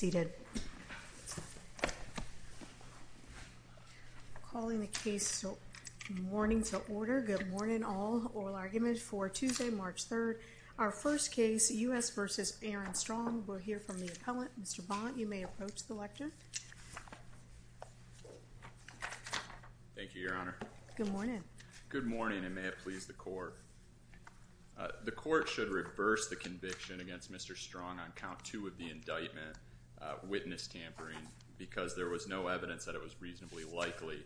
Good morning and may it please the court. The court should reverse the conviction against Mr. Strong on count two of the indictment of witness tampering because there was no evidence that it was reasonably likely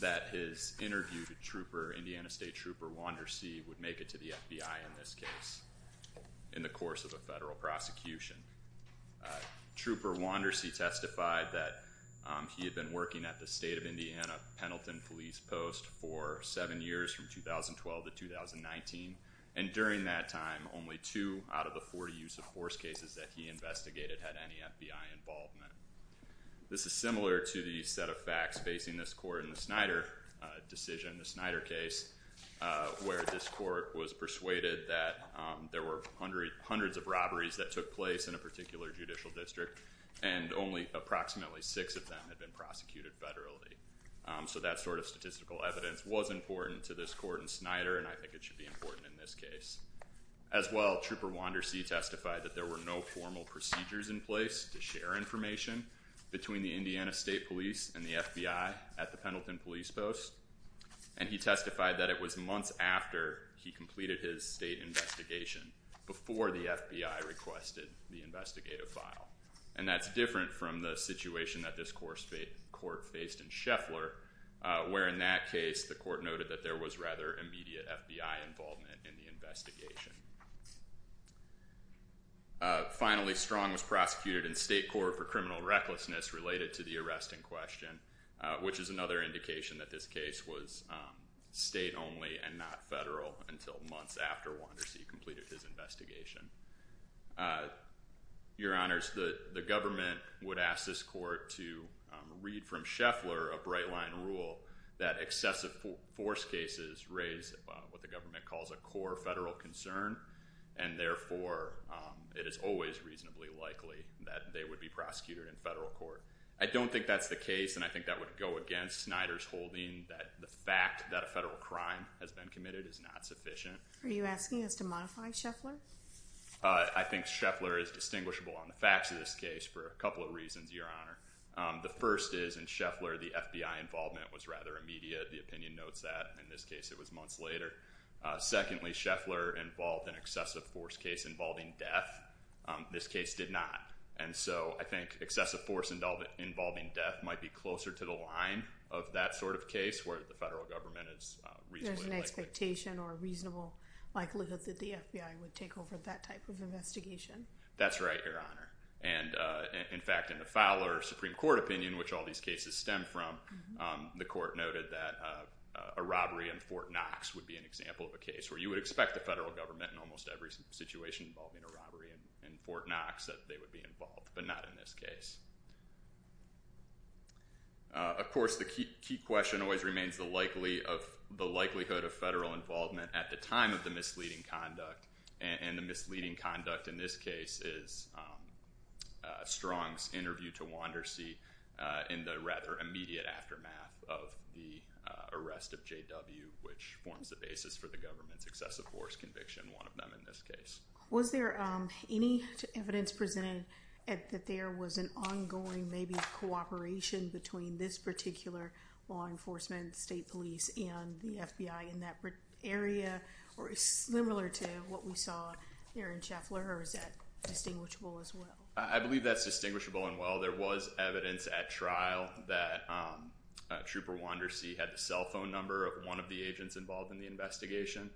that his interview to Indiana State Trooper Wandersee would make it to the FBI in this case in the course of a federal prosecution. Trooper Wandersee testified that he had been working at the state of Indiana Pendleton Police Post for seven years from 2012 to 2019 and during that time only two out of the 40 use of force cases that he investigated had any FBI involvement. This is similar to the set of facts facing this court in the Snyder decision, the Snyder case where this court was persuaded that there were hundreds of robberies that took place in a particular judicial district and only approximately six of them had been prosecuted federally. So that sort of statistical evidence was important to this court in Snyder and I think it should be important in this case. As well, Trooper Wandersee testified that there were no formal procedures in place to share information between the Indiana State Police and the FBI at the Pendleton Police Post and he testified that it was months after he completed his state investigation before the FBI requested the investigative file. And that's different from the situation that this court faced in Scheffler where in that case the court noted that there was rather immediate FBI involvement in the investigation. Finally Strong was prosecuted in state court for criminal recklessness related to the arrest in question, which is another indication that this case was state only and not federal until months after Wandersee completed his investigation. Your Honors, the government would ask this court to read from Scheffler a bright line rule that excessive force cases raise what the government calls a core federal concern and therefore it is always reasonably likely that they would be prosecuted in federal court. I don't think that's the case and I think that would go against Snyder's holding that the fact that a federal crime has been committed is not sufficient. Are you asking us to modify Scheffler? I think Scheffler is distinguishable on the facts of this case for a couple of reasons, Your Honor. The first is in Scheffler the FBI involvement was rather immediate. The opinion notes that. In this case it was months later. Secondly, Scheffler involved an excessive force case involving death. This case did not. And so I think excessive force involving death might be closer to the line of that sort of case where the federal government is reasonably likely. There's an expectation or a reasonable likelihood that the FBI would take over that type of That's right, Your Honor. And in fact in the Fowler Supreme Court opinion, which all these cases stem from, the court noted that a robbery in Fort Knox would be an example of a case where you would expect the federal government in almost every situation involving a robbery in Fort Knox that they would be involved, but not in this case. Of course the key question always remains the likelihood of federal involvement at the time of the misleading conduct, and the misleading conduct in this case is Strong's interview to Wandersee in the rather immediate aftermath of the arrest of JW, which forms the basis for the government's excessive force conviction, one of them in this case. Was there any evidence presented that there was an ongoing maybe cooperation between this particular law enforcement, state police, and the FBI in that area, or is it similar to what we saw here in Scheffler, or is that distinguishable as well? I believe that's distinguishable and well. There was evidence at trial that Trooper Wandersee had the cell phone number of one of the agents involved in the investigation.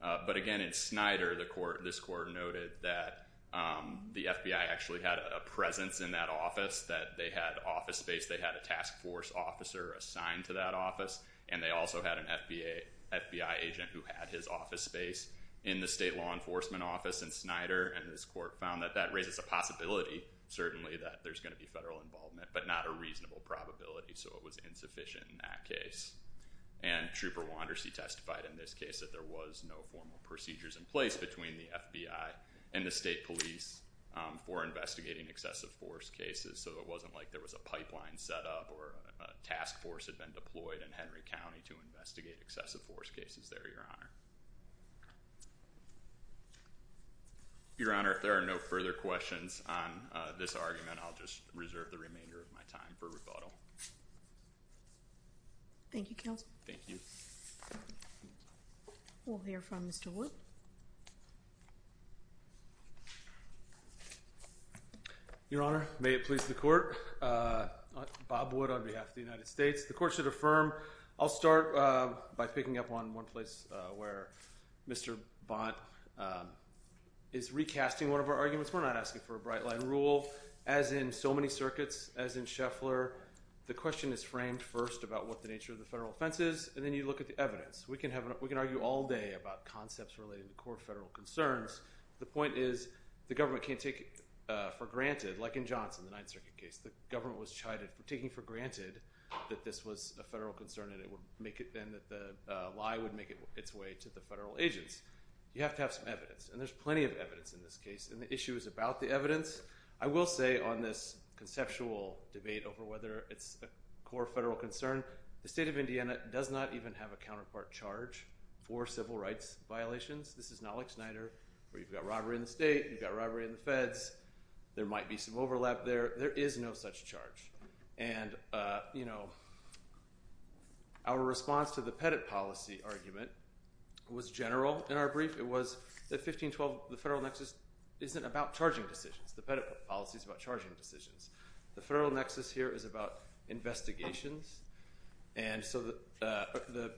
But again in Snyder, this court noted that the FBI actually had a presence in that office, that they had office space, they had a task force officer assigned to that office, and they also had an FBI agent who had his office space in the state law enforcement office in Snyder, and this court found that that raises a possibility, certainly, that there's going to be federal involvement, but not a reasonable probability, so it was insufficient in that case. And Trooper Wandersee testified in this case that there was no formal procedures in place between the FBI and the state police for investigating excessive force cases, so it wasn't like there was a pipeline set up or a task force had been deployed in Henry County to investigate excessive force cases there, Your Honor. Your Honor, if there are no further questions on this argument, I'll just reserve the remainder of my time for rebuttal. Thank you, Counsel. Thank you. We'll hear from Mr. Wood. Your Honor, may it please the Court, Bob Wood on behalf of the United States. The Court should affirm, I'll start by picking up on one place where Mr. Bont is recasting one of our arguments. We're not asking for a bright-line rule. As in so many circuits, as in Scheffler, the question is framed first about what the nature of the federal offense is, and then you look at the evidence. We can argue all day about concepts relating to core federal concerns. The point is the government can't take it for granted, like in Johnson, the Ninth Circuit case. The government was taking for granted that this was a federal concern and that the lie would make its way to the federal agents. You have to have some evidence, and there's plenty of evidence in this case, and the issue is about the evidence. I will say on this conceptual debate over whether it's a core federal concern, the State of Indiana does not even have a counterpart charge for civil rights violations. This is not like Snyder where you've got robbery in the state, you've got robbery in the feds, there might be some overlap there. There is no such charge, and our response to the Pettit policy argument was general in our brief. It was that 1512, the federal nexus, isn't about charging decisions. The Pettit policy is about charging decisions. The federal nexus here is about investigations, and so the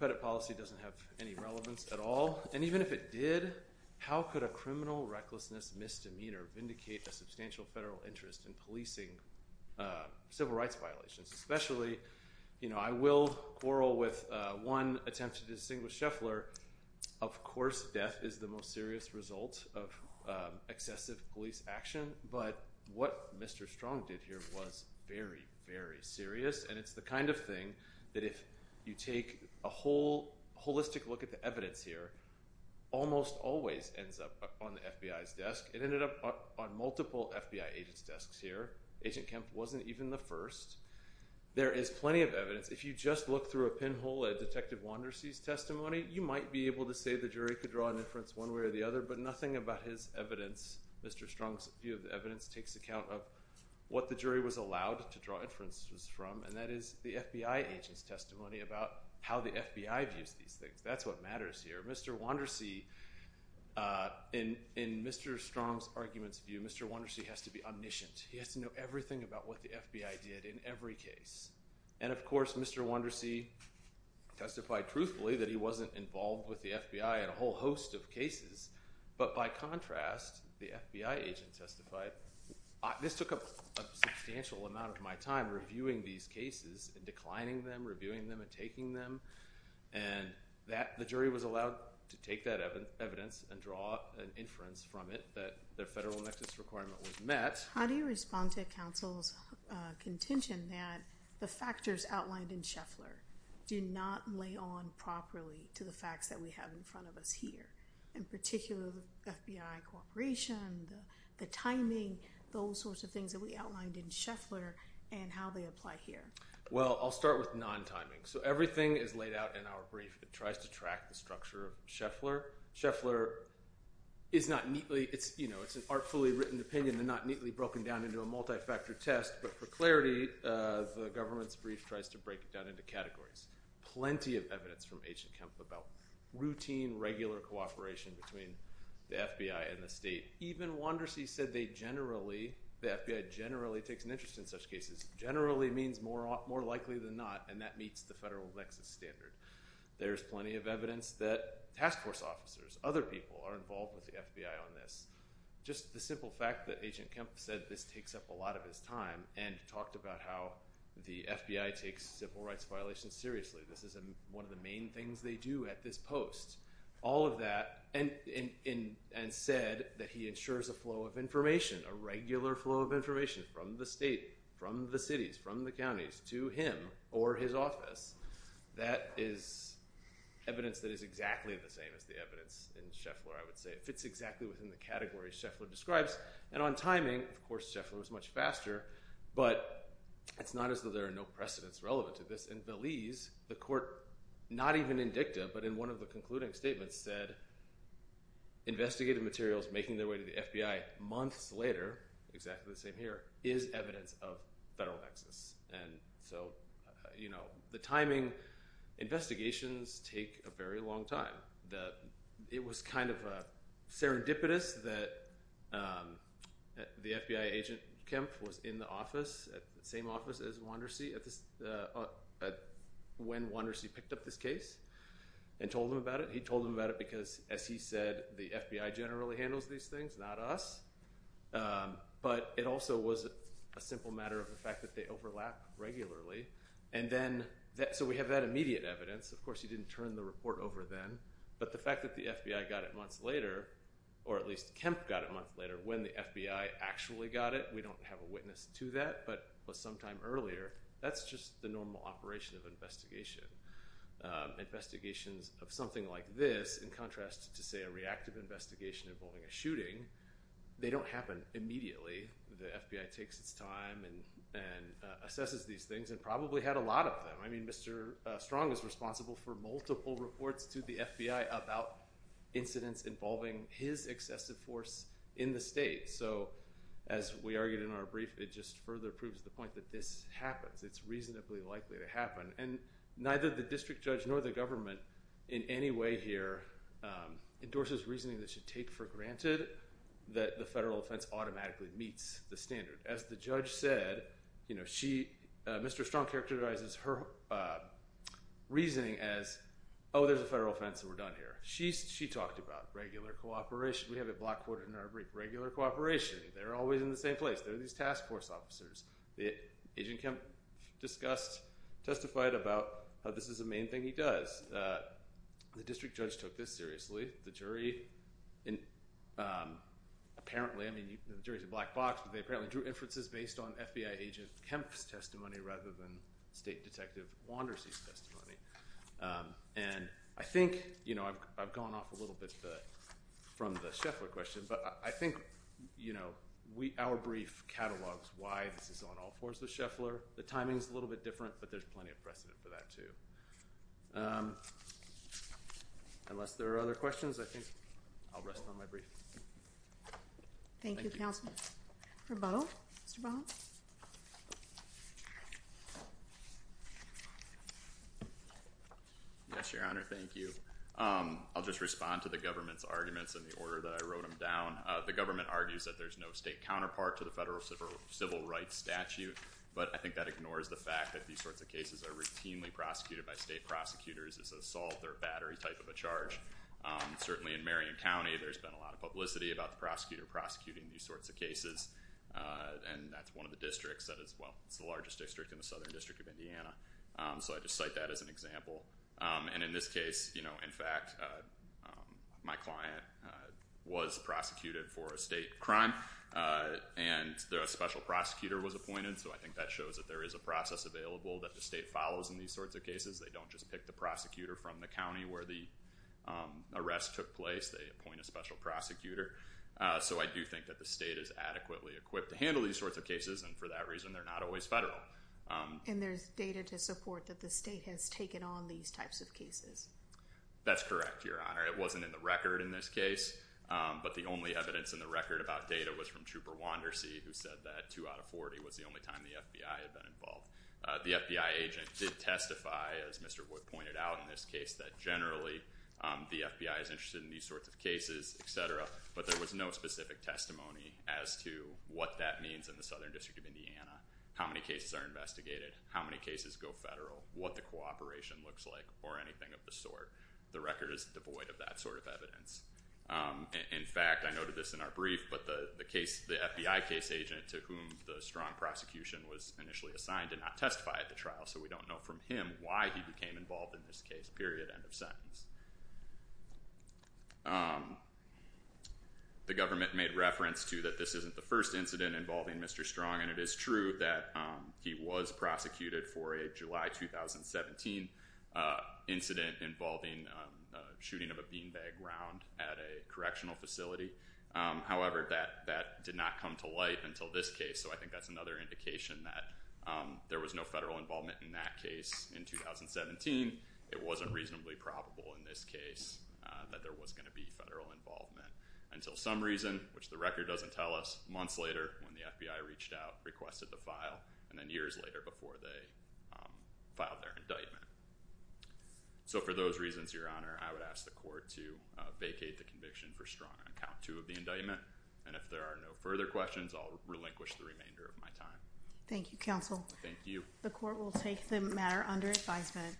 Pettit policy doesn't have any relevance at all, and even if it did, how could a criminal recklessness misdemeanor vindicate a substantial federal interest in policing civil rights violations? Especially, I will quarrel with one attempt to distinguish Scheffler, of course death is the most serious result of excessive police action, but what Mr. Strong did here was very, very serious, and it's the kind of thing that if you take a holistic look at the evidence here, almost always ends up on the FBI's desk. It ended up on multiple FBI agents' desks here. Agent Kempf wasn't even the first. There is plenty of evidence. If you just look through a pinhole at Detective Wandersee's testimony, you might be able to say the jury could draw an inference one way or the other, but nothing about his evidence, Mr. Strong's view of the evidence, takes account of what the jury was allowed to draw inferences from, and that is the FBI agent's testimony about how the FBI views these things. That's what matters here. Mr. Wandersee, in Mr. Strong's argument's view, Mr. Wandersee has to be omniscient. He has to know everything about what the FBI did in every case, and of course, Mr. Wandersee testified truthfully that he wasn't involved with the FBI in a whole host of cases, but by contrast, the FBI agent testified. This took up a substantial amount of my time reviewing these cases and declining them, reviewing them, and taking them, and the jury was allowed to take that evidence and draw an inference from it that their federal nexus requirement was met. How do you respond to counsel's contention that the factors outlined in Scheffler do not lay on properly to the facts that we have in front of us here, in particular, the FBI cooperation, the timing, those sorts of things that we outlined in Scheffler, and how they apply here? Well, I'll start with non-timing. So, everything is laid out in our brief that tries to track the structure of Scheffler. Scheffler is not neatly, you know, it's an artfully written opinion and not neatly broken down into a multi-factor test, but for clarity, the government's brief tries to break it down into categories. Plenty of evidence from H and Kemp about routine, regular cooperation between the FBI and the state. Even Wandersee said they generally, the FBI generally takes an interest in such cases, generally means more likely than not, and that meets the federal nexus standard. There's plenty of evidence that task force officers, other people are involved with the FBI on this. Just the simple fact that Agent Kemp said this takes up a lot of his time and talked about how the FBI takes civil rights violations seriously. This is one of the main things they do at this post. All of that, and said that he ensures a flow of information, a regular flow of information from the state, from the cities, from the counties, to him or his office. That is evidence that is exactly the same as the evidence in Scheffler, I would say. It fits exactly within the category Scheffler describes. And on timing, of course, Scheffler was much faster, but it's not as though there are no precedents relevant to this. In Belize, the court, not even in dicta, but in one of the concluding statements, said investigative materials making their way to the FBI months later, exactly the same here, is evidence of federal nexus. And so, you know, the timing investigations take a very long time. It was kind of serendipitous that the FBI Agent Kemp was in the office, same office as Wandersee, when Wandersee picked up this case and told him about it. He told him about it because, as he said, the FBI generally handles these things, not us. But it also was a simple matter of the fact that they overlap regularly. And then, so we have that immediate evidence. Of course, he didn't turn the report over then. But the fact that the FBI got it months later, or at least Kemp got it months later, when the FBI actually got it, we don't have a witness to that, but sometime earlier, that's just the normal operation of an investigation. Investigations of something like this, in contrast to, say, a reactive investigation involving a shooting, they don't happen immediately. The FBI takes its time and assesses these things and probably had a lot of them. I mean, Mr. Strong is responsible for multiple reports to the FBI about incidents involving his excessive force in the state. So, as we argued in our brief, it just further proves the point that this happens. It's reasonably likely to happen. And neither the district judge nor the government, in any way here, endorses reasoning that should be taken for granted, that the federal offense automatically meets the standard. As the judge said, you know, she, Mr. Strong characterizes her reasoning as, oh, there's a federal offense and we're done here. She talked about regular cooperation. We have it block quoted in our brief. Regular cooperation. They're always in the same place. They're these task force officers. Agent Kemp discussed, testified about how this is a main thing he does. The district judge took this seriously. The jury, apparently, I mean, the jury's a black box, but they apparently drew inferences based on FBI Agent Kemp's testimony rather than State Detective Wandersee's testimony. And I think, you know, I've gone off a little bit from the Scheffler question, but I think, you know, our brief catalogs why this is on all fours with Scheffler. The timing's a little bit different, but there's plenty of precedent for that, too. And unless there are other questions, I think I'll rest on my brief. Thank you, Counselor. For Bowe, Mr. Bowe? Yes, Your Honor. Thank you. I'll just respond to the government's arguments and the order that I wrote them down. The government argues that there's no state counterpart to the federal civil rights statute, but I think that ignores the fact that these sorts of cases are routinely prosecuted by state prosecutors as assault or battery type of a charge. Certainly in Marion County, there's been a lot of publicity about the prosecutor prosecuting these sorts of cases, and that's one of the districts that is, well, it's the largest district in the Southern District of Indiana. So I just cite that as an example. And in this case, you know, in fact, my client was prosecuted for a state crime, and a special prosecutor was appointed, so I think that shows that there is a process available that the state follows in these sorts of cases. They don't just pick the prosecutor from the county where the arrest took place. They appoint a special prosecutor. So I do think that the state is adequately equipped to handle these sorts of cases, and for that reason, they're not always federal. And there's data to support that the state has taken on these types of cases. That's correct, Your Honor. It wasn't in the record in this case, but the only evidence in the record about data was from Trooper Wandersee, who said that 2 out of 40 was the only time the FBI had been involved. The FBI agent did testify, as Mr. Wood pointed out in this case, that generally the FBI is interested in these sorts of cases, etc., but there was no specific testimony as to what that means in the Southern District of Indiana, how many cases are investigated, how many cases go federal, what the cooperation looks like, or anything of the sort. The record is devoid of that sort of evidence. In fact, I noted this in our brief, but the FBI case agent to whom the Strong prosecution was initially assigned did not testify at the trial, so we don't know from him why he became involved in this case, period, end of sentence. The government made reference to that this isn't the first incident involving Mr. Strong, and it is true that he was prosecuted for a July 2017 incident involving shooting of a beanbag round at a correctional facility. However, that did not come to light until this case, so I think that's another indication that there was no federal involvement in that case in 2017. It wasn't reasonably probable in this case that there was going to be federal involvement, until some reason, which the record doesn't tell us, months later, when the FBI reached out, requested the file, and then years later, before they filed their indictment. So for those reasons, Your Honor, I would ask the court to vacate the conviction for Strong on count 2 of the indictment, and if there are no further questions, I'll relinquish the remainder of my time. Thank you, Counsel. Thank you. The court will take the matter under advisement.